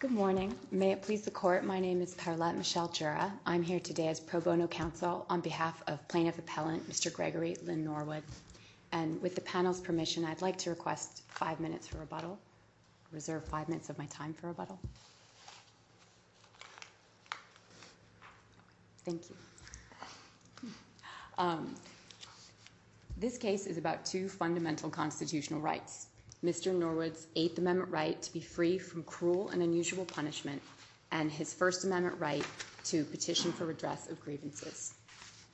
Good morning. May it please the court, my name is Parlette Michelle Jura. I'm here today as pro bono counsel on behalf of plaintiff appellant Mr. Gregory Lynn Norwood. And with the panel's permission, I'd like to request five minutes for rebuttal. Reserve five minutes of my time for rebuttal. Thank you. This case is about two fundamental constitutional rights. Mr. Norwood's Eighth Amendment right to be free from cruel and unusual punishment and his First Amendment right to petition for redress of grievances.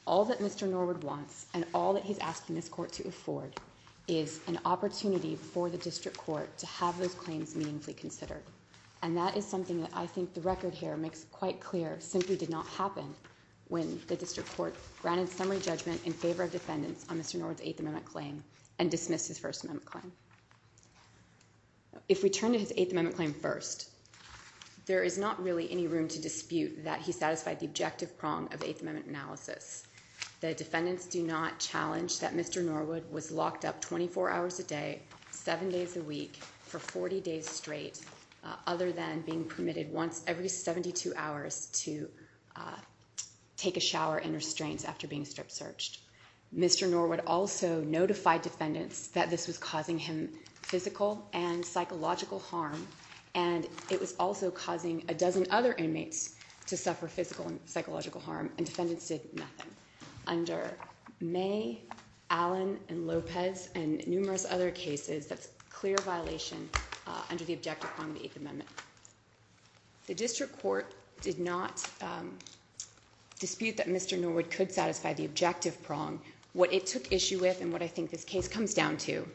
All that Mr. Norwood wants and all that he's asking this court to afford is an opportunity for the district court to have those claims meaningfully considered. And that is something that I think the record here makes quite clear simply did not happen when the district court granted summary judgment in favor of defendants on Mr. Norwood's Eighth Amendment claim and dismissed his First Amendment claim. If we turn to his Eighth Amendment claim first, there is not really any room to dispute that he satisfied the objective prong of the Eighth Amendment analysis. The defendants do not challenge that Mr. Norwood was locked up 24 hours a day, seven days a week for 40 days straight, other than being permitted once every 72 hours to take a shower and restraints after being strip searched. Mr. Norwood also notified defendants that this was causing him physical and psychological harm, and it was also causing a dozen other inmates to suffer physical and psychological harm, and defendants did nothing. Under May, Allen, and Lopez and numerous other cases, that's clear violation under the objective prong of the Eighth Amendment. The district court did not dispute that Mr. Norwood could satisfy the objective prong. What it took issue with and what I think this case comes down to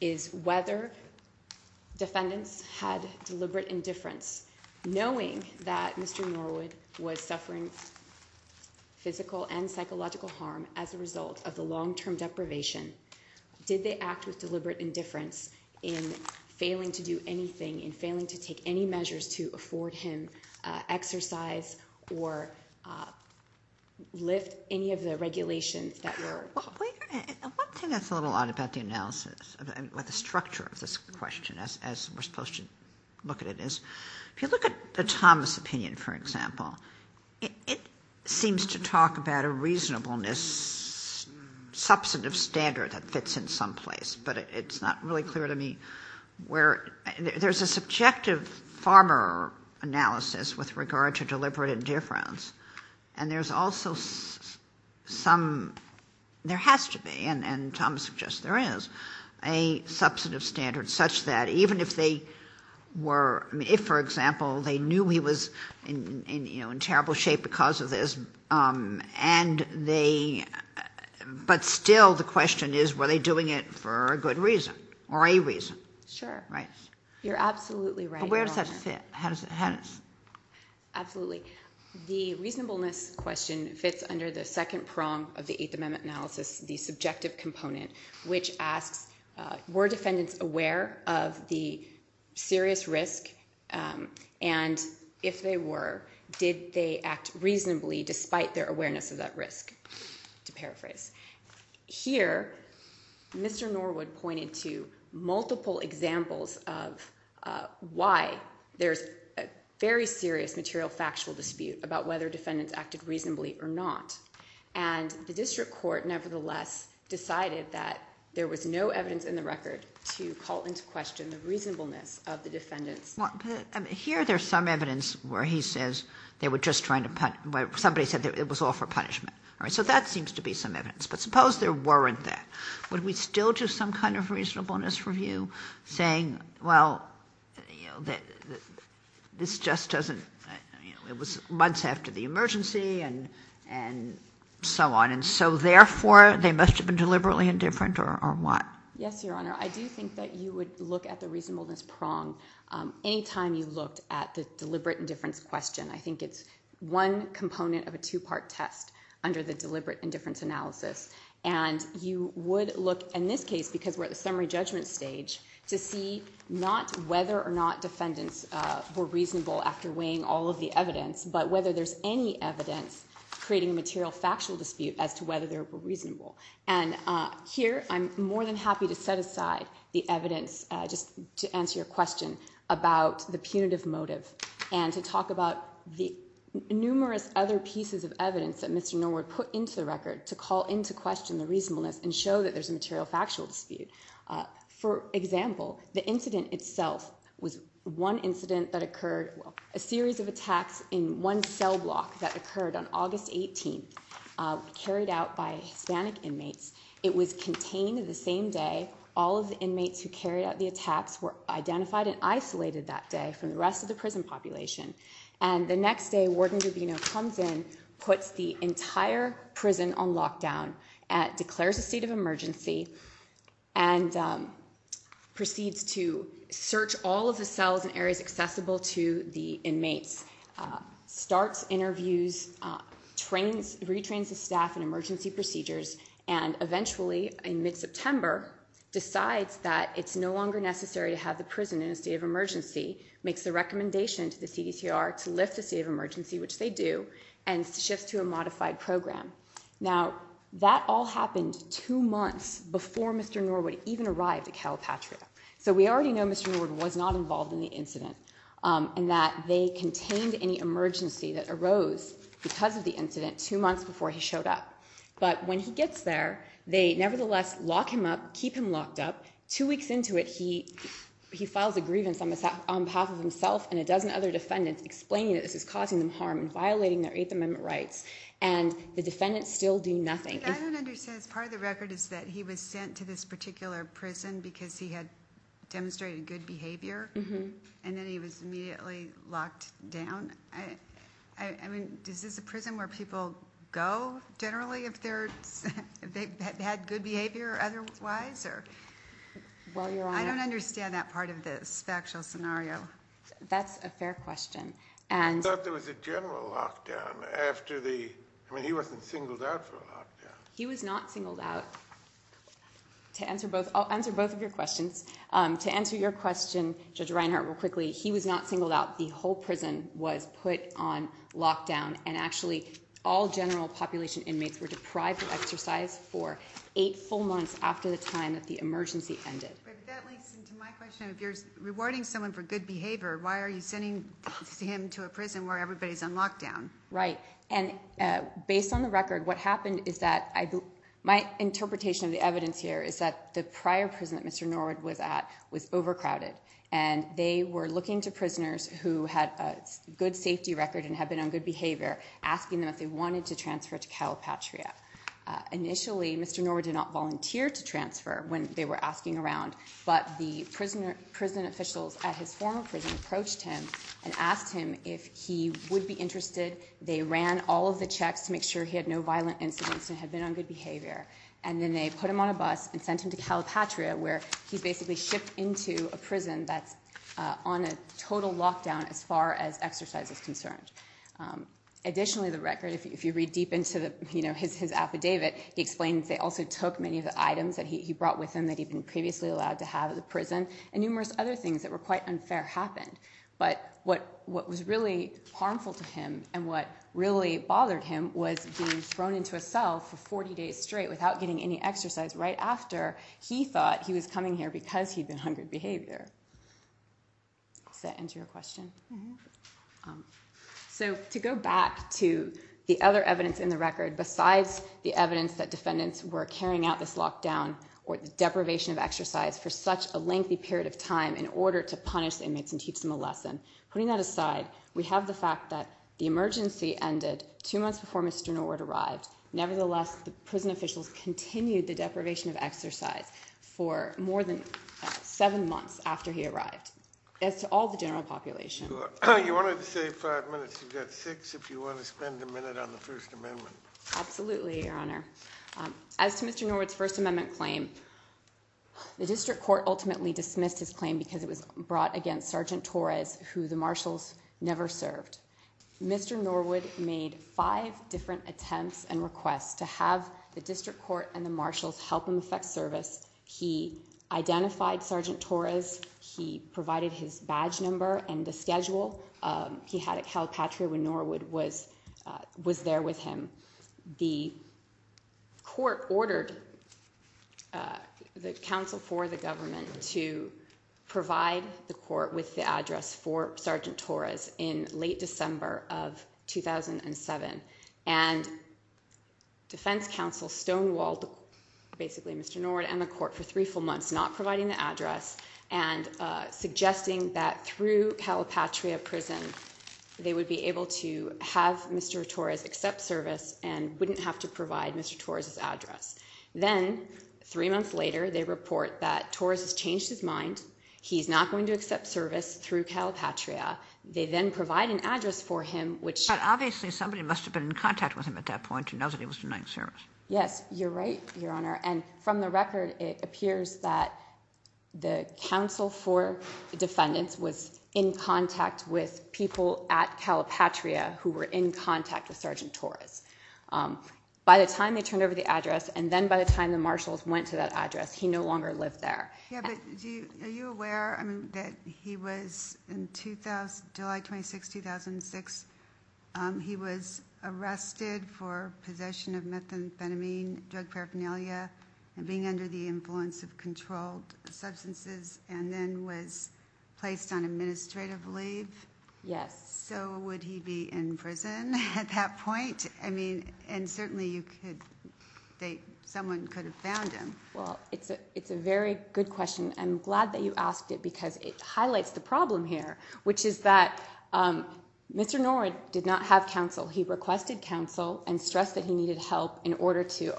is whether defendants had deliberate indifference. Knowing that Mr. Norwood was suffering physical and psychological harm as a result of the long-term deprivation, did they act with deliberate indifference in failing to do anything, in failing to take any measures to afford him exercise or lift any of the regulations that were called? One thing that's a little odd about the analysis, about the structure of this question as we're supposed to look at it is, if you look at the Thomas opinion, for example, it seems to talk about a reasonableness substantive standard that fits in some place, but it's not really clear to me where. There's a subjective farmer analysis with regard to deliberate indifference, and there's also some, there has to be, and Thomas suggests there is, a substantive standard such that even if they were, if, for example, they knew he was in terrible shape because of this, but still the question is, were they doing it for a good reason, or a reason? Sure. Right. You're absolutely right. But where does that fit? Absolutely. The reasonableness question fits under the second prong of the Eighth Amendment analysis, the subjective component, which asks, were defendants aware of the serious risk, and if they were, did they act reasonably despite their awareness of that risk, to paraphrase. Here, Mr. Norwood pointed to multiple examples of why there's a very serious material factual dispute about whether defendants acted reasonably or not, and the district court nevertheless decided that there was no evidence in the record to call into question the reasonableness of the defendants. Here there's some evidence where he says they were just trying to, somebody said it was all for punishment. So that seems to be some evidence. But suppose there weren't that. Would we still do some kind of reasonableness review, saying, well, this just doesn't, it was months after the emergency, and so on, and so therefore they must have been deliberately indifferent, or what? Yes, Your Honor. I do think that you would look at the reasonableness prong any time you looked at the deliberate indifference question. I think it's one component of a two-part test under the deliberate indifference analysis. And you would look in this case, because we're at the summary judgment stage, to see not whether or not defendants were reasonable after weighing all of the evidence, but whether there's any evidence creating a material factual dispute as to whether they were reasonable. And here I'm more than happy to set aside the evidence just to answer your question about the punitive motive and to talk about the numerous other pieces of evidence that Mr. Norwood put into the record to call into question the reasonableness and show that there's a material factual dispute. For example, the incident itself was one incident that occurred, a series of attacks in one cell block that occurred on August 18, carried out by Hispanic inmates. It was contained the same day. All of the inmates who carried out the attacks were identified and isolated that day from the rest of the prison population. And the next day, Warden Rubino comes in, puts the entire prison on lockdown, declares a state of emergency, and proceeds to search all of the cells and areas accessible to the inmates, starts interviews, retrains the staff in emergency procedures, and eventually, in mid-September, decides that it's no longer necessary to have the prison in a state of emergency, makes the recommendation to the CDCR to lift the state of emergency, which they do, and shifts to a modified program. Now, that all happened two months before Mr. Norwood even arrived at Calpatria. So we already know Mr. Norwood was not involved in the incident and that they contained any emergency that arose because of the incident two months before he showed up. But when he gets there, they nevertheless lock him up, keep him locked up. Two weeks into it, he files a grievance on behalf of himself and a dozen other defendants, explaining that this is causing them harm and violating their Eighth Amendment rights, and the defendants still do nothing. I don't understand. Part of the record is that he was sent to this particular prison because he had demonstrated good behavior, and then he was immediately locked down. I mean, is this a prison where people go, generally, if they've had good behavior otherwise? I don't understand that part of the factual scenario. That's a fair question. I thought there was a general lockdown. I mean, he wasn't singled out for a lockdown. He was not singled out. I'll answer both of your questions. To answer your question, Judge Reinhart, real quickly, he was not singled out. The whole prison was put on lockdown, and actually all general population inmates were deprived of exercise for eight full months after the time that the emergency ended. But that links into my question. If you're rewarding someone for good behavior, why are you sending him to a prison where everybody's on lockdown? Right. And based on the record, what happened is that my interpretation of the evidence here is that the prior prison that Mr. Norwood was at was overcrowded, and they were looking to prisoners who had a good safety record and had been on good behavior, asking them if they wanted to transfer to Calpatria. Initially, Mr. Norwood did not volunteer to transfer when they were asking around, but the prison officials at his former prison approached him and asked him if he would be interested. They ran all of the checks to make sure he had no violent incidents and had been on good behavior, and then they put him on a bus and sent him to Calpatria, where he's basically shipped into a prison that's on a total lockdown as far as exercise is concerned. Additionally, the record, if you read deep into his affidavit, he explains they also took many of the items that he brought with him that he'd been previously allowed to have at the prison, and numerous other things that were quite unfair happened. But what was really harmful to him and what really bothered him was being thrown into a cell for 40 days straight without getting any exercise right after he thought he was coming here because he'd been on good behavior. Does that answer your question? So to go back to the other evidence in the record besides the evidence that defendants were carrying out this lockdown or the deprivation of exercise for such a lengthy period of time in order to punish the inmates and teach them a lesson, putting that aside, we have the fact that the emergency ended two months before Mr. Norwood arrived. Nevertheless, the prison officials continued the deprivation of exercise for more than seven months after he arrived. As to all the general population. You wanted to say five minutes. You've got six if you want to spend a minute on the First Amendment. Absolutely, Your Honor. As to Mr. Norwood's First Amendment claim, the district court ultimately dismissed his claim because it was brought against Sergeant Torres, who the marshals never served. Mr. Norwood made five different attempts and requests to have the district court and the marshals help him effect service. He identified Sergeant Torres. He provided his badge number and the schedule he had at Calpatria when Norwood was there with him. The court ordered the counsel for the government to provide the court with the address for Sergeant Torres in late December of 2007. And defense counsel stonewalled basically Mr. Norwood and the court for three full months, not providing the address and suggesting that through Calpatria prison, they would be able to have Mr. Torres accept service and wouldn't have to provide Mr. Torres's address. Then three months later, they report that Torres has changed his mind. He's not going to accept service through Calpatria. They then provide an address for him, which obviously somebody must have been in contact with him at that point. He knows that he was denied service. Yes, you're right, Your Honor. And from the record, it appears that the counsel for defendants was in contact with people at Calpatria who were in contact with Sergeant Torres. By the time they turned over the address and then by the time the marshals went to that address, he no longer lived there. Yeah, but are you aware that he was in July 26, 2006, he was arrested for possession of methamphetamine, drug paraphernalia, and being under the influence of controlled substances and then was placed on administrative leave? Yes. So would he be in prison at that point? I mean, and certainly someone could have found him. Well, it's a very good question. I'm glad that you asked it because it highlights the problem here, which is that Mr. Norwood did not have counsel. He requested counsel and stressed that he needed help in order to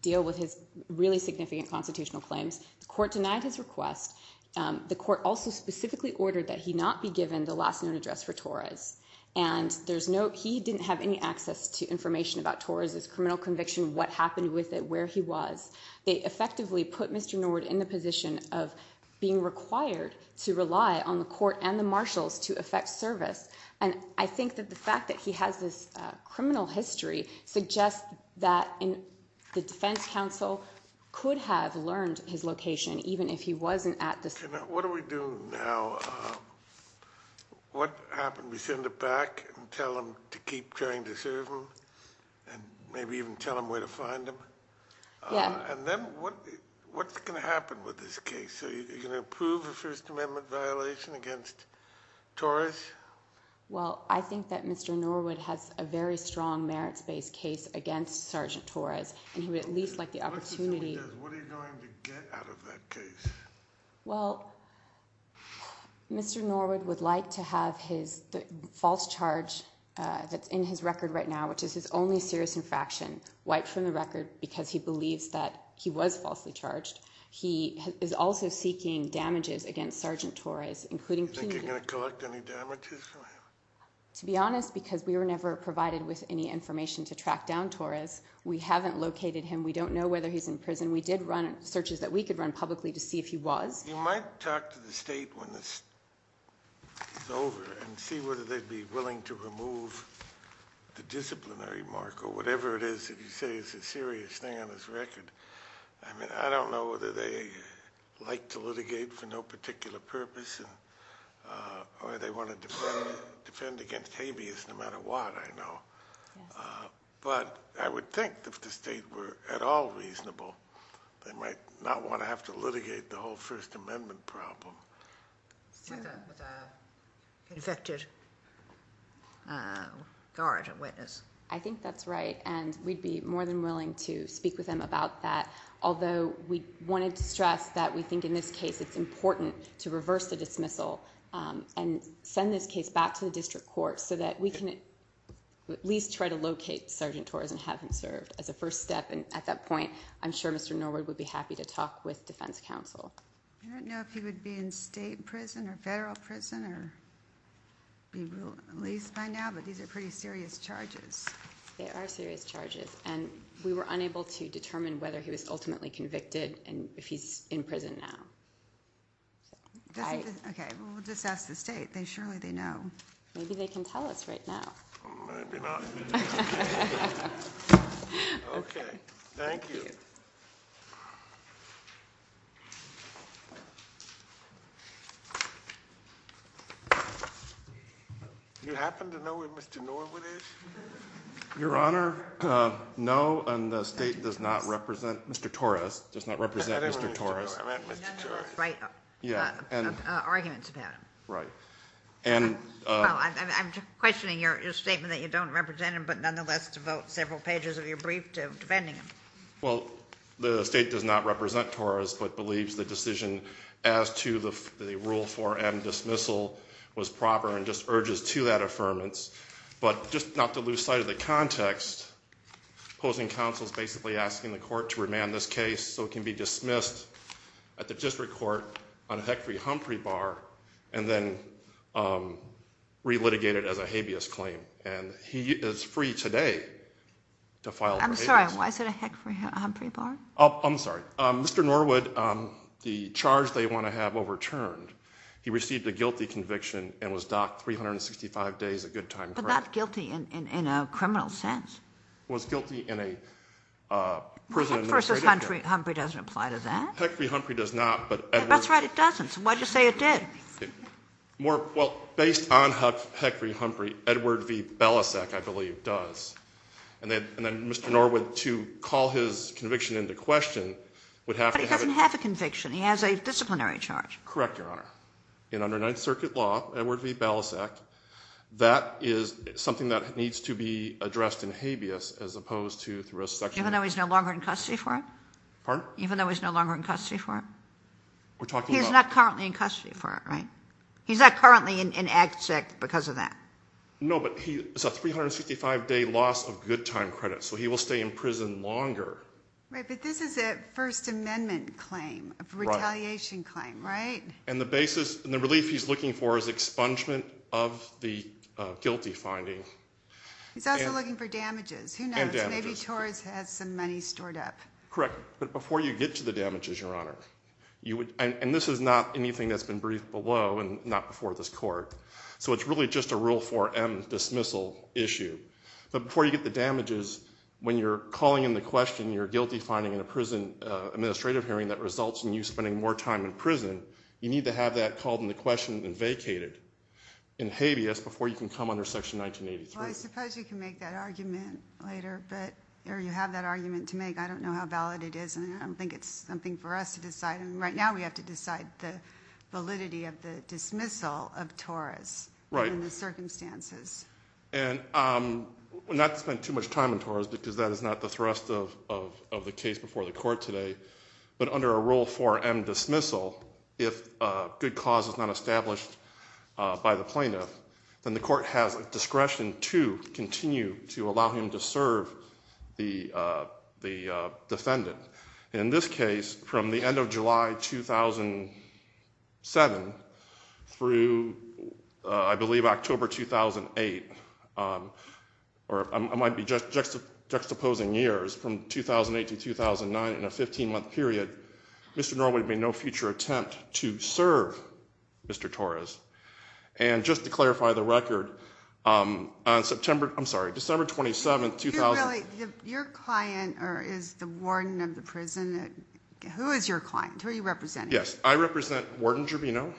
deal with his really significant constitutional claims. The court denied his request. The court also specifically ordered that he not be given the last known address for Torres, and he didn't have any access to information about Torres's criminal conviction, what happened with it, where he was. They effectively put Mr. Norwood in the position of being required to rely on the court and the marshals to effect service. And I think that the fact that he has this criminal history suggests that the defense counsel could have learned his location even if he wasn't at the site. What do we do now? What happened? We send it back and tell them to keep trying to serve him and maybe even tell them where to find him? Yeah. And then what's going to happen with this case? Are you going to approve a First Amendment violation against Torres? Well, I think that Mr. Norwood has a very strong merits-based case against Sergeant Torres, and he would at least like the opportunity. What are you going to get out of that case? Well, Mr. Norwood would like to have the false charge that's in his record right now, which is his only serious infraction, wiped from the record because he believes that he was falsely charged. He is also seeking damages against Sergeant Torres, including punitive— Do you think you're going to collect any damages from him? To be honest, because we were never provided with any information to track down Torres, we haven't located him. We don't know whether he's in prison. We did run searches that we could run publicly to see if he was. You might talk to the state when this is over and see whether they'd be willing to remove the disciplinary mark or whatever it is that you say is a serious thing on his record. I mean, I don't know whether they like to litigate for no particular purpose or they want to defend against habeas no matter what, I know. But I would think if the state were at all reasonable, they might not want to have to litigate the whole First Amendment problem. With an infected guard or witness. I think that's right, and we'd be more than willing to speak with them about that, although we wanted to stress that we think in this case it's important to reverse the dismissal and send this case back to the district court so that we can at least try to locate Sergeant Torres and have him served as a first step. And at that point, I'm sure Mr. Norwood would be happy to talk with defense counsel. I don't know if he would be in state prison or federal prison, at least by now, but these are pretty serious charges. They are serious charges, and we were unable to determine whether he was ultimately convicted and if he's in prison now. OK. We'll just ask the state. They surely they know. Maybe they can tell us right now. Maybe not. OK. Thank you. You happen to know where Mr. Norwood is? Your Honor, no, and the state does not represent Mr. Torres, does not represent Mr. Torres. Right. Yeah. Arguments about him. Right. Well, I'm questioning your statement that you don't represent him, but nonetheless devote several pages of your brief to defending him. Well, the state does not represent Torres but believes the decision as to the rule 4M dismissal was proper and just urges to that affirmance. But just not to lose sight of the context, opposing counsel is basically asking the court to remand this case so it can be dismissed at the district court on a Hickory-Humphrey bar and then relitigated as a habeas claim. And he is free today to file for habeas. I'm sorry. Why is it a Hickory-Humphrey bar? I'm sorry. Mr. Norwood, the charge they want to have overturned, he received a guilty conviction and was docked 365 days a good time. But not guilty in a criminal sense. Was guilty in a prison. Hickory-Humphrey doesn't apply to that. Hickory-Humphrey does not. That's right, it doesn't. So why do you say it did? Well, based on Hickory-Humphrey, Edward V. Belasek, I believe, does. And then Mr. Norwood, to call his conviction into question, would have to have a... But he doesn't have a conviction. He has a disciplinary charge. Correct, Your Honor. In under Ninth Circuit law, Edward V. Belasek, that is something that needs to be addressed in habeas as opposed to through a section... Even though he's no longer in custody for it? Pardon? Even though he's no longer in custody for it? We're talking about... He's not currently in custody for it, right? He's not currently in Act 6 because of that. No, but it's a 365-day loss of good time credit, so he will stay in prison longer. Right, but this is a First Amendment claim, a retaliation claim, right? And the relief he's looking for is expungement of the guilty finding. He's also looking for damages. Who knows? Maybe Torres has some money stored up. Correct. But before you get to the damages, Your Honor, and this is not anything that's been briefed below and not before this court, so it's really just a Rule 4M dismissal issue, but before you get the damages, when you're calling into question your guilty finding in a prison administrative hearing that results in you spending more time in prison, you need to have that called into question and vacated in habeas before you can come under Section 1983. Well, I suppose you can make that argument later, or you have that argument to make. I don't know how valid it is, and I don't think it's something for us to decide. Right now we have to decide the validity of the dismissal of Torres in the circumstances. And not to spend too much time on Torres because that is not the thrust of the case before the court today, but under a Rule 4M dismissal, if good cause is not established by the plaintiff, then the court has discretion to continue to allow him to serve the defendant. In this case, from the end of July 2007 through, I believe, October 2008, or it might be juxtaposing years from 2008 to 2009 in a 15-month period, Mr. Norwood made no future attempt to serve Mr. Torres. And just to clarify the record, on December 27, 2000— Your client is the warden of the prison. Who is your client? Who are you representing? Yes, I represent Warden Gervino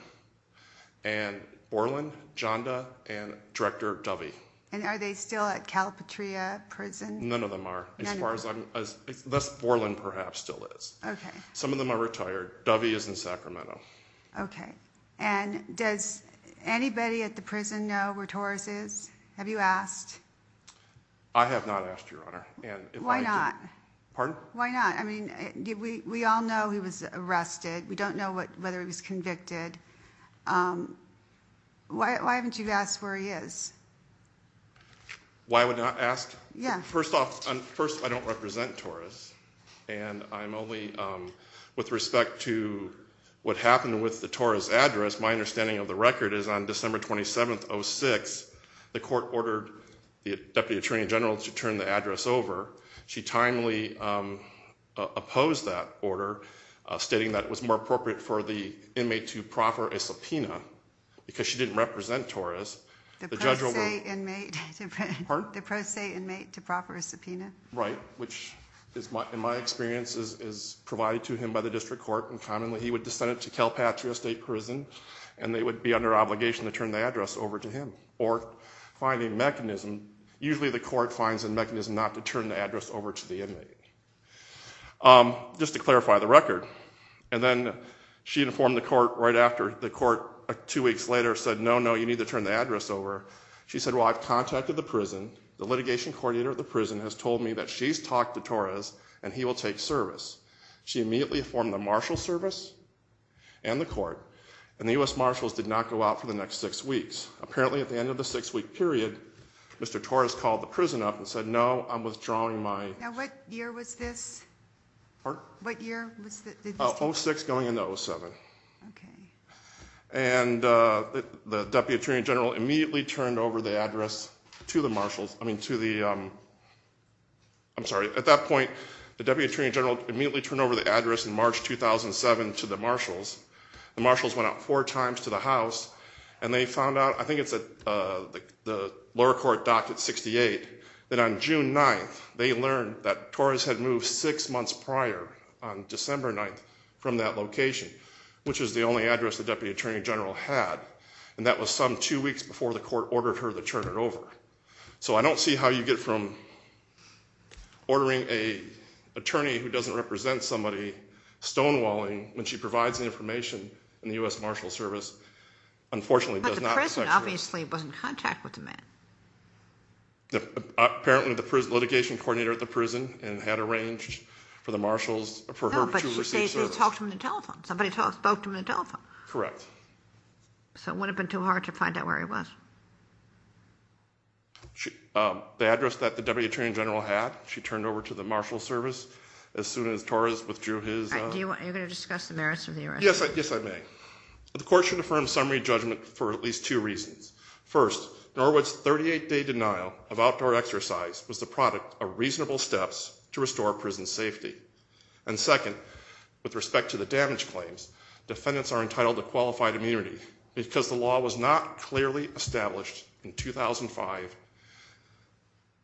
and Borland, Janda, and Director Dovey. And are they still at Calipatria Prison? None of them are, unless Borland perhaps still is. Some of them are retired. Dovey is in Sacramento. Okay. And does anybody at the prison know where Torres is? Have you asked? I have not asked, Your Honor. Why not? Pardon? Why not? I mean, we all know he was arrested. We don't know whether he was convicted. Why haven't you asked where he is? Why I would not ask? Yeah. First off, I don't represent Torres, and I'm only—with respect to what happened with the Torres address, my understanding of the record is on December 27, 2006, the court ordered the Deputy Attorney General to turn the address over. She timely opposed that order, stating that it was more appropriate for the inmate to proffer a subpoena, because she didn't represent Torres. The pro se inmate— Pardon? Right, which in my experience is provided to him by the district court, and commonly he would just send it to Calipatria State Prison, and they would be under obligation to turn the address over to him, or find a mechanism—usually the court finds a mechanism not to turn the address over to the inmate. Just to clarify the record, and then she informed the court right after. The court two weeks later said, no, no, you need to turn the address over. She said, well, I've contacted the prison. The litigation coordinator at the prison has told me that she's talked to Torres, and he will take service. She immediately informed the marshal service and the court, and the U.S. Marshals did not go out for the next six weeks. Apparently at the end of the six-week period, Mr. Torres called the prison up and said, no, I'm withdrawing my— Now what year was this? Pardon? What year was this? Oh, 06 going into 07. Okay. And the Deputy Attorney General immediately turned over the address to the marshals—I mean to the—I'm sorry. At that point, the Deputy Attorney General immediately turned over the address in March 2007 to the marshals. The marshals went out four times to the house, and they found out—I think it's the lower court docked at 68— that on June 9th, they learned that Torres had moved six months prior, on December 9th, from that location, which is the only address the Deputy Attorney General had. And that was some two weeks before the court ordered her to turn it over. So I don't see how you get from ordering an attorney who doesn't represent somebody stonewalling when she provides the information, and the U.S. Marshals Service unfortunately does not— But the prison obviously was in contact with the man. Apparently the litigation coordinator at the prison had arranged for the marshals—for her to receive service. Somebody talked to him on the telephone. Somebody spoke to him on the telephone. Correct. So it wouldn't have been too hard to find out where he was. The address that the Deputy Attorney General had, she turned over to the Marshals Service as soon as Torres withdrew his— All right. You're going to discuss the merits of the arrest? Yes, I may. The court should affirm summary judgment for at least two reasons. First, Norwood's 38-day denial of outdoor exercise was the product of reasonable steps to restore prison safety. And second, with respect to the damage claims, defendants are entitled to qualified immunity. Because the law was not clearly established in 2005,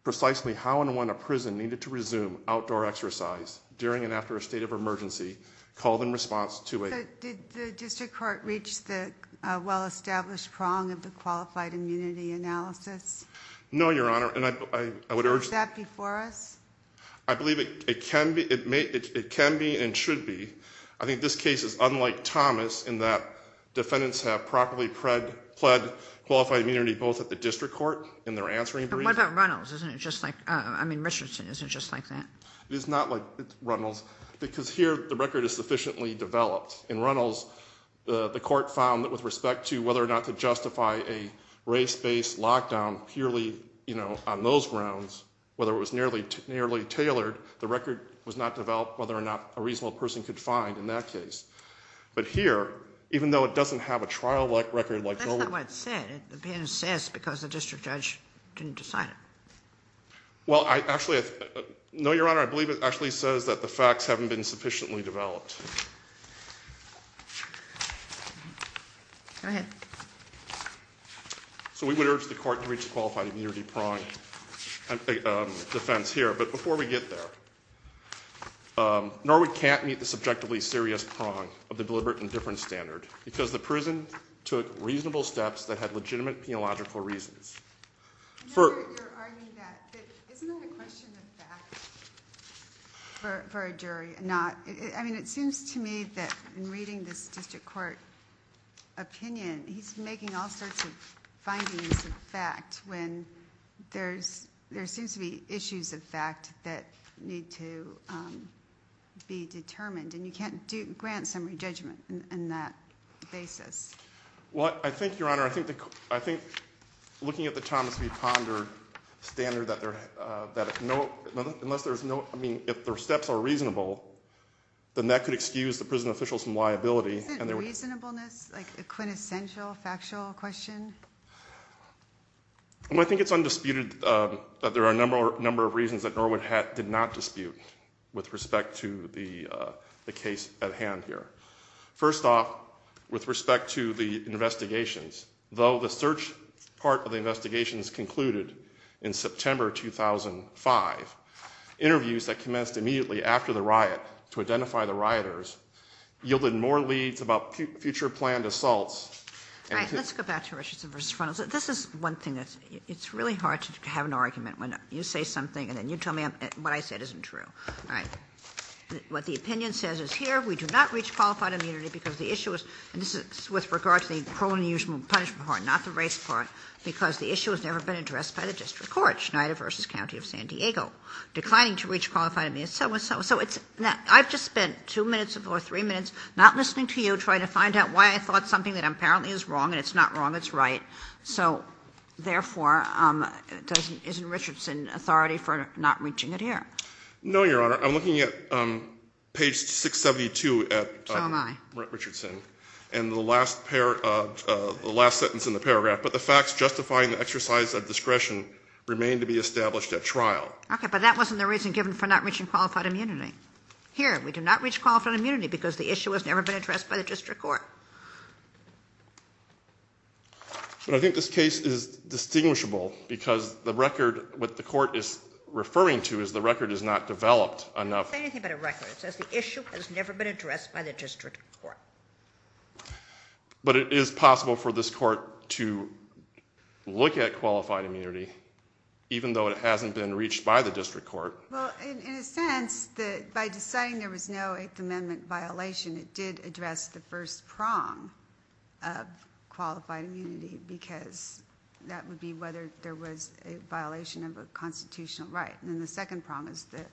precisely how and when a prison needed to resume outdoor exercise during and after a state of emergency called in response to a— Did the district court reach the well-established prong of the qualified immunity analysis? No, Your Honor, and I would urge— Is that before us? I believe it can be and should be. I think this case is unlike Thomas in that defendants have properly pled qualified immunity both at the district court in their answering brief— But what about Runnels? Isn't it just like—I mean, Richardson. Isn't it just like that? It is not like Runnels because here the record is sufficiently developed. In Runnels, the court found that with respect to whether or not to justify a race-based lockdown purely on those grounds, whether it was nearly tailored, the record was not developed, whether or not a reasonable person could find in that case. But here, even though it doesn't have a trial-like record like— But that's not what it said. The defendant says because the district judge didn't decide it. Well, I actually—No, Your Honor, I believe it actually says that the facts haven't been sufficiently developed. Go ahead. So we would urge the court to reach a qualified immunity prong defense here. But before we get there, Norwood can't meet the subjectively serious prong of the deliberate indifference standard because the prison took reasonable steps that had legitimate penological reasons. I know you're arguing that, but isn't that a question of facts for a jury? I mean, it seems to me that in reading this district court opinion, he's making all sorts of findings of fact when there seems to be issues of fact that need to be determined, and you can't grant summary judgment in that basis. Well, I think, Your Honor, I think looking at the Thomas v. Ponder standard, unless there's no—I mean, if their steps are reasonable, then that could excuse the prison officials from liability. Isn't reasonableness a quintessential factual question? I think it's undisputed that there are a number of reasons that Norwood did not dispute with respect to the case at hand here. First off, with respect to the investigations, though the search part of the investigations concluded in September 2005, interviews that commenced immediately after the riot to identify the rioters yielded more leads about future planned assaults. All right, let's go back to Richardson v. Funnels. This is one thing that's—it's really hard to have an argument when you say something and then you tell me what I said isn't true. All right. What the opinion says is here, we do not reach qualified immunity because the issue is—and this is with regard to the parole and unusual punishment part, not the race part—because the issue has never been addressed by the district court, Schneider v. County of San Diego, declining to reach qualified immunity. So it's—I've just spent 2 minutes or 3 minutes not listening to you trying to find out why I thought something that apparently is wrong, and it's not wrong, it's right. So, therefore, doesn't—isn't Richardson authority for not reaching it here? No, Your Honor. I'm looking at page 672 at— So am I. —Richardson. And the last pair—the last sentence in the paragraph, but the facts justifying the exercise of discretion remain to be established at trial. Okay, but that wasn't the reason given for not reaching qualified immunity. Here, we do not reach qualified immunity because the issue has never been addressed by the district court. But I think this case is distinguishable because the record—what the court is referring to is the record is not developed enough— It doesn't say anything about a record. It says the issue has never been addressed by the district court. But it is possible for this court to look at qualified immunity, even though it hasn't been reached by the district court. Well, in a sense, by deciding there was no Eighth Amendment violation, it did address the first prong of qualified immunity, because that would be whether there was a violation of a constitutional right. And then the second prong is the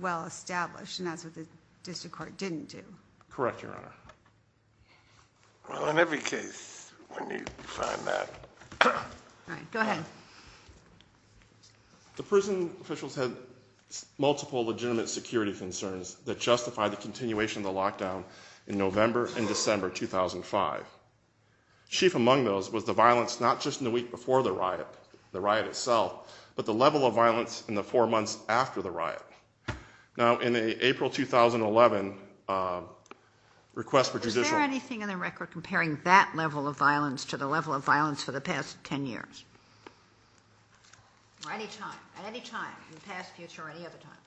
well-established, and that's what the district court didn't do. Correct, Your Honor. Well, in every case, when you find that— All right, go ahead. The prison officials had multiple legitimate security concerns that justified the continuation of the lockdown in November and December 2005. Chief among those was the violence not just in the week before the riot, the riot itself, but the level of violence in the four months after the riot. Now, in an April 2011 request for judicial— At any time, in the past, future, or any other time.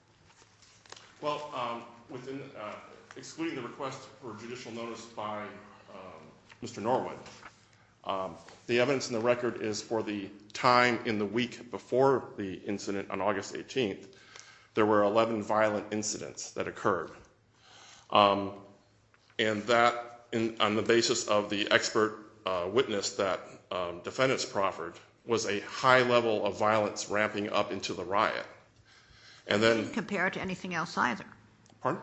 Well, excluding the request for judicial notice by Mr. Norwood, the evidence in the record is for the time in the week before the incident on August 18th, there were 11 violent incidents that occurred. And that, on the basis of the expert witness that defendants proffered, was a high level of violence ramping up into the riot. He didn't compare it to anything else either. Pardon?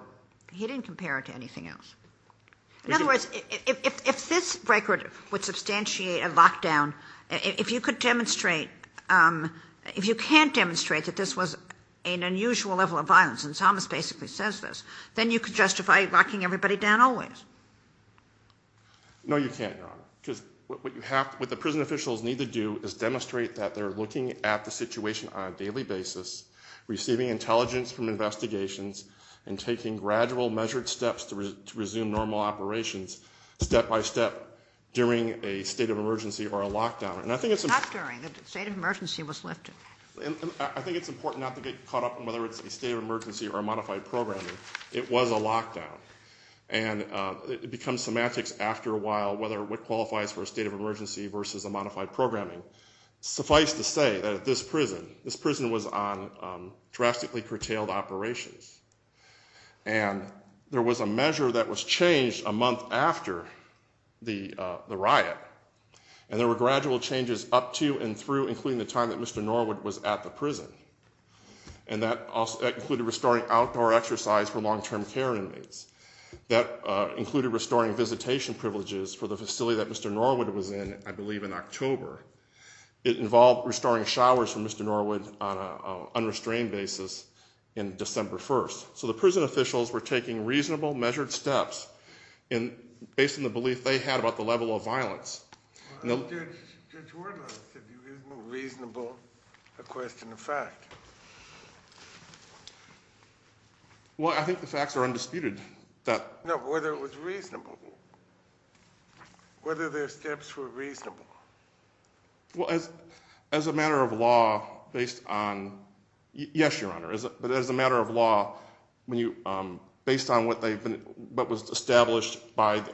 He didn't compare it to anything else. In other words, if this record would substantiate a lockdown, if you could demonstrate— If you can't demonstrate that this was an unusual level of violence, and Thomas basically says this, then you could justify locking everybody down always. No, you can't, Your Honor, because what the prison officials need to do is demonstrate that they're looking at the situation on a daily basis, receiving intelligence from investigations, and taking gradual, measured steps to resume normal operations step by step during a state of emergency or a lockdown. Not during. The state of emergency was lifted. I think it's important not to get caught up in whether it's a state of emergency or a modified programming. It was a lockdown, and it becomes semantics after a while whether what qualifies for a state of emergency versus a modified programming. Suffice to say that this prison was on drastically curtailed operations, and there was a measure that was changed a month after the riot, and there were gradual changes up to and through, including the time that Mr. Norwood was at the prison, and that included restoring outdoor exercise for long-term care inmates. That included restoring visitation privileges for the facility that Mr. Norwood was in, I believe, in October. It involved restoring showers for Mr. Norwood on an unrestrained basis on December 1st. So the prison officials were taking reasonable, measured steps based on the belief they had about the level of violence. Judge Wardle, isn't reasonable a question of fact? Well, I think the facts are undisputed. No, whether it was reasonable, whether their steps were reasonable. Well, as a matter of law, based on what was established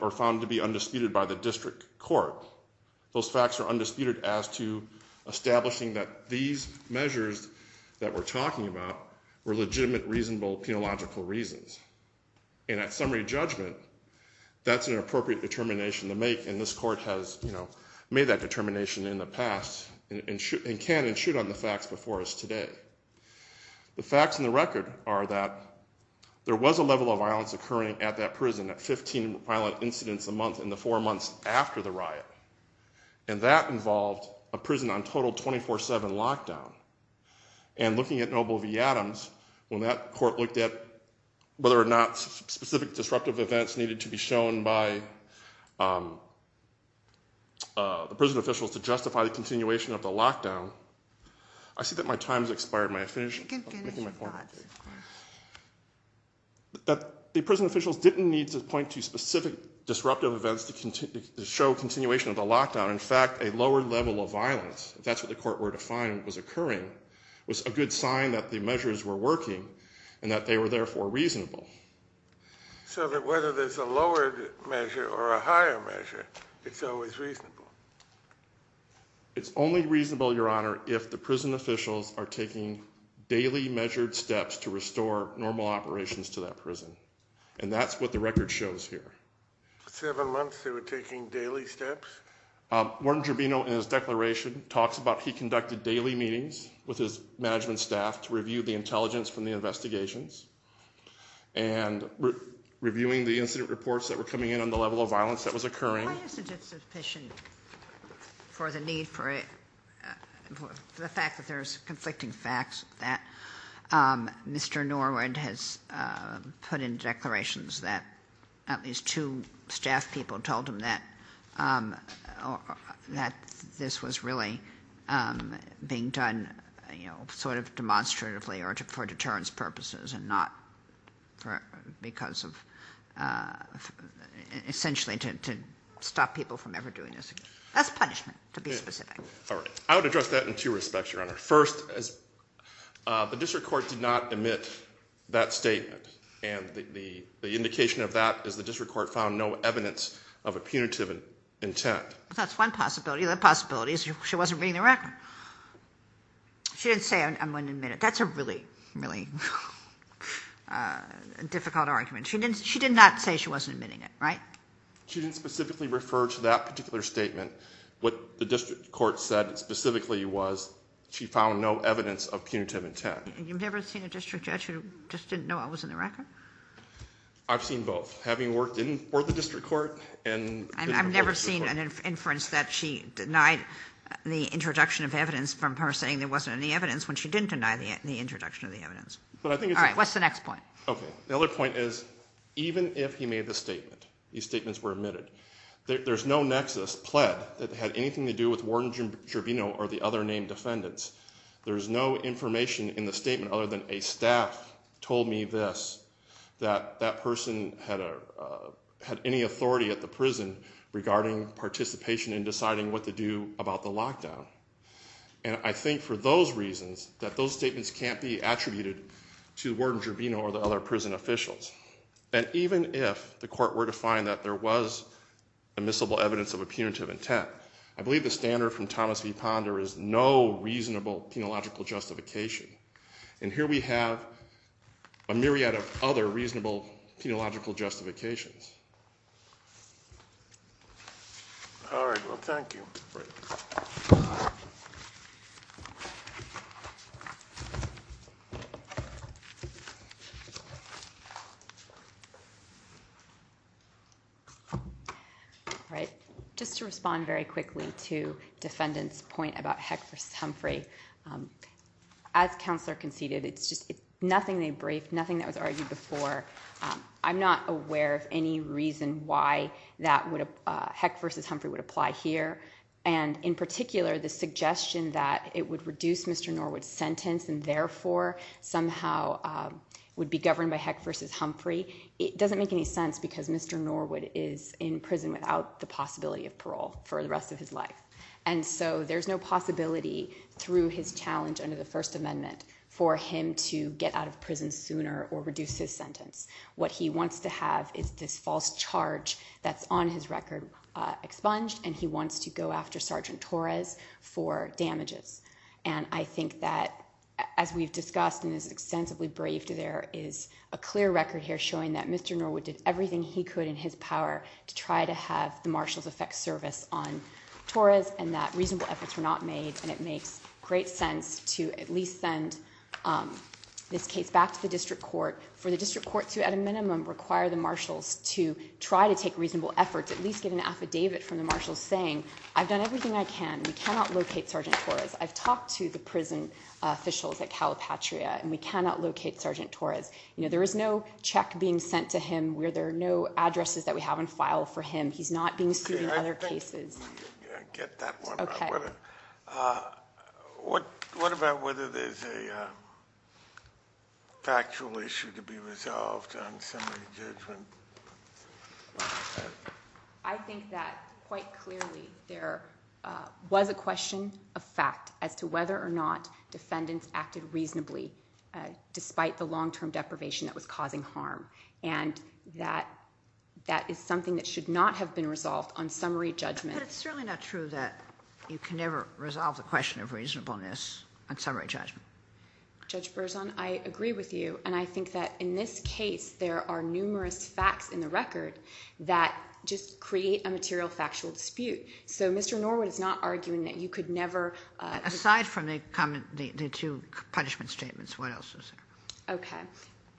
or found to be undisputed by the district court, those facts are undisputed as to establishing that these measures that we're talking about were legitimate, reasonable, penological reasons. And at summary judgment, that's an appropriate determination to make, and this court has made that determination in the past and can and should on the facts before us today. The facts in the record are that there was a level of violence occurring at that prison at 15 violent incidents a month in the four months after the riot, and that involved a prison on total 24-7 lockdown. And looking at Noble v. Adams, when that court looked at whether or not specific disruptive events needed to be shown by the prison officials to justify the continuation of the lockdown, I see that my time has expired. The prison officials didn't need to point to specific disruptive events to show continuation of the lockdown. In fact, a lower level of violence, if that's what the court were to find was occurring, was a good sign that the measures were working and that they were therefore reasonable. So that whether there's a lowered measure or a higher measure, it's always reasonable. It's only reasonable, Your Honor, if the prison officials are taking daily measured steps to restore normal operations to that prison. And that's what the record shows here. Seven months they were taking daily steps? Warden Gervino, in his declaration, talks about he conducted daily meetings with his management staff to review the intelligence from the investigations and reviewing the incident reports that were coming in on the level of violence that was occurring. Why isn't it sufficient for the need for the fact that there's conflicting facts that Mr. Norwood has put in declarations that at least two staff people told him that this was really being done sort of demonstratively or for deterrence purposes and not because of essentially to stop people from ever doing this again? That's punishment, to be specific. All right. I would address that in two respects, Your Honor. First, the district court did not admit that statement. And the indication of that is the district court found no evidence of a punitive intent. That's one possibility. The other possibility is she wasn't reading the record. She didn't say, I'm going to admit it. That's a really, really difficult argument. She did not say she wasn't admitting it, right? She didn't specifically refer to that particular statement. What the district court said specifically was she found no evidence of punitive intent. And you've never seen a district judge who just didn't know what was in the record? I've seen both. Having worked for the district court and working for the court. I've never seen an inference that she denied the introduction of evidence from her saying there wasn't any evidence when she didn't deny the introduction of the evidence. All right. What's the next point? Okay. The other point is even if he made the statement, these statements were admitted, there's no nexus, pled, that had anything to do with Warden Gervino or the other named defendants. There's no information in the statement other than a staff told me this, that that person had any authority at the prison regarding participation in deciding what to do about the lockdown. And I think for those reasons, that those statements can't be attributed to Warden Gervino or the other prison officials. And even if the court were to find that there was admissible evidence of a punitive intent, I believe the standard from Thomas v. Ponder is no reasonable penological justification. And here we have a myriad of other reasonable penological justifications. All right. Well, thank you. All right. Just to respond very quickly to Defendant's point about Heck v. Humphrey, as Counselor conceded, it's just nothing they briefed, nothing that was argued before. I'm not aware of any reason why Heck v. Humphrey would apply here. And in particular, the suggestion that it would reduce Mr. Norwood's sentence and therefore somehow would be governed by Heck v. Humphrey, it doesn't make any sense because Mr. Norwood is in prison without the possibility of parole for the rest of his life. And so there's no possibility through his challenge under the First Amendment for him to get out of prison sooner or reduce his sentence. What he wants to have is this false charge that's on his record expunged, and he wants to go after Sergeant Torres for damages. And I think that, as we've discussed in this extensively briefed, there is a clear record here showing that Mr. Norwood did everything he could in his power to try to have the marshals effect service on Torres and that reasonable efforts were not made. And it makes great sense to at least send this case back to the district court for the district court to, at a minimum, require the marshals to try to take reasonable efforts, at least get an affidavit from the marshals saying, I've done everything I can. We cannot locate Sergeant Torres. I've talked to the prison officials at Calipatria, and we cannot locate Sergeant Torres. There is no check being sent to him. There are no addresses that we have in file for him. He's not being sued in other cases. I get that one. What about whether there's a factual issue to be resolved on summary judgment? I think that, quite clearly, there was a question of fact as to whether or not defendants acted reasonably despite the long-term deprivation that was causing harm. And that is something that should not have been resolved on summary judgment. But it's certainly not true that you can ever resolve the question of reasonableness on summary judgment. Judge Berzon, I agree with you. And I think that in this case, there are numerous facts in the record that just create a material factual dispute. So Mr. Norwood is not arguing that you could never— Aside from the two punishment statements, what else was there? Okay.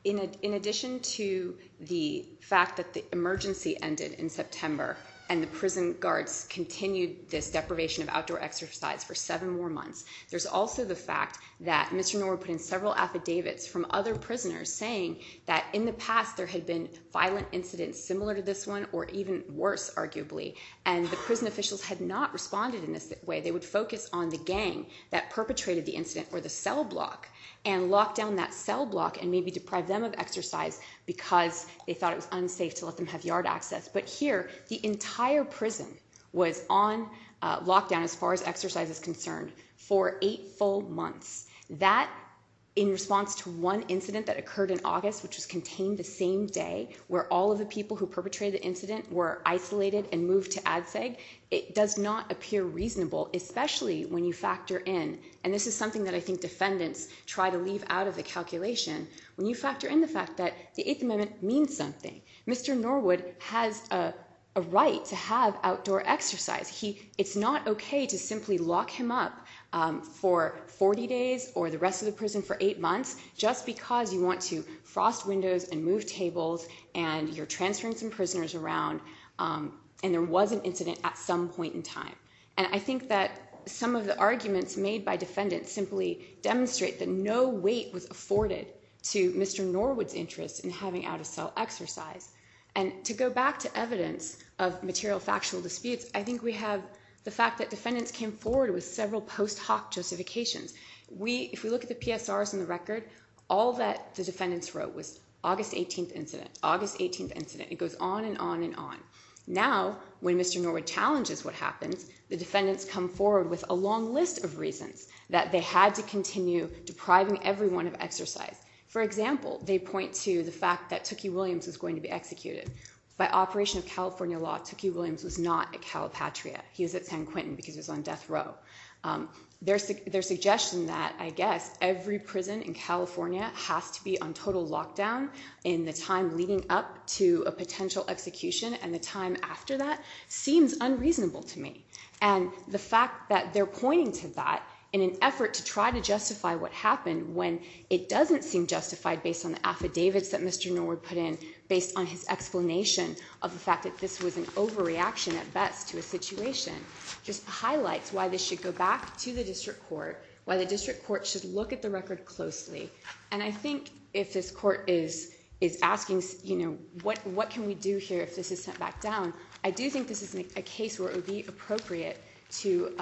In addition to the fact that the emergency ended in September and the prison guards continued this deprivation of outdoor exercise for seven more months, there's also the fact that Mr. Norwood put in several affidavits from other prisoners saying that in the past there had been violent incidents similar to this one or even worse, arguably, and the prison officials had not responded in this way. They would focus on the gang that perpetrated the incident or the cell block and lock down that cell block and maybe deprive them of exercise because they thought it was unsafe to let them have yard access. But here, the entire prison was on lockdown as far as exercise is concerned for eight full months. That, in response to one incident that occurred in August, which was contained the same day, where all of the people who perpetrated the incident were isolated and moved to Ad Seg, it does not appear reasonable, especially when you factor in— and this is something that I think defendants try to leave out of the calculation— when you factor in the fact that the Eighth Amendment means something. Mr. Norwood has a right to have outdoor exercise. It's not okay to simply lock him up for 40 days or the rest of the prison for eight months just because you want to frost windows and move tables and you're transferring some prisoners around and there was an incident at some point in time. And I think that some of the arguments made by defendants simply demonstrate that no weight was afforded to Mr. Norwood's interest in having out-of-cell exercise. And to go back to evidence of material factual disputes, I think we have the fact that defendants came forward with several post hoc justifications. If we look at the PSRs in the record, all that the defendants wrote was August 18th incident, August 18th incident, it goes on and on and on. Now, when Mr. Norwood challenges what happened, the defendants come forward with a long list of reasons that they had to continue depriving everyone of exercise. For example, they point to the fact that Tookie Williams was going to be executed. By operation of California law, Tookie Williams was not at Calipatria. He was at San Quentin because he was on death row. Their suggestion that, I guess, every prison in California has to be on total lockdown in the time leading up to a potential execution and the time after that seems unreasonable to me. And the fact that they're pointing to that in an effort to try to justify what happened when it doesn't seem justified based on the affidavits that Mr. Norwood put in, based on his explanation of the fact that this was an overreaction at best to a situation, just highlights why this should go back to the district court, why the district court should look at the record closely. And I think if this court is asking what can we do here if this is sent back down, I do think this is a case where it would be appropriate to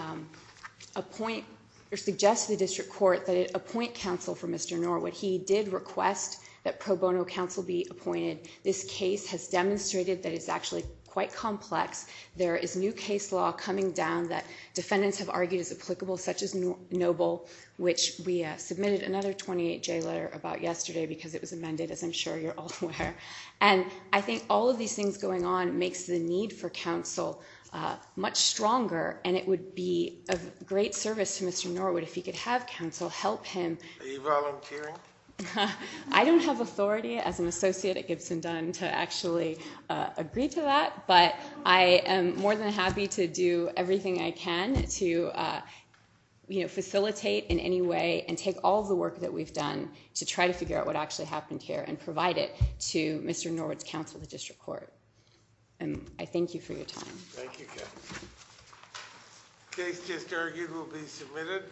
suggest to the district court that it appoint counsel for Mr. Norwood. He did request that pro bono counsel be appointed. This case has demonstrated that it's actually quite complex. There is new case law coming down that defendants have argued is applicable, such as Noble, which we submitted another 28-J letter about yesterday because it was amended, as I'm sure you're all aware. And I think all of these things going on makes the need for counsel much stronger, and it would be of great service to Mr. Norwood if he could have counsel help him. Are you volunteering? I don't have authority as an associate at Gibson Dunn to actually agree to that, but I am more than happy to do everything I can to facilitate in any way and take all of the work that we've done to try to figure out what actually happened here and provide it to Mr. Norwood's counsel at the district court. And I thank you for your time. Thank you. The case just argued will be submitted.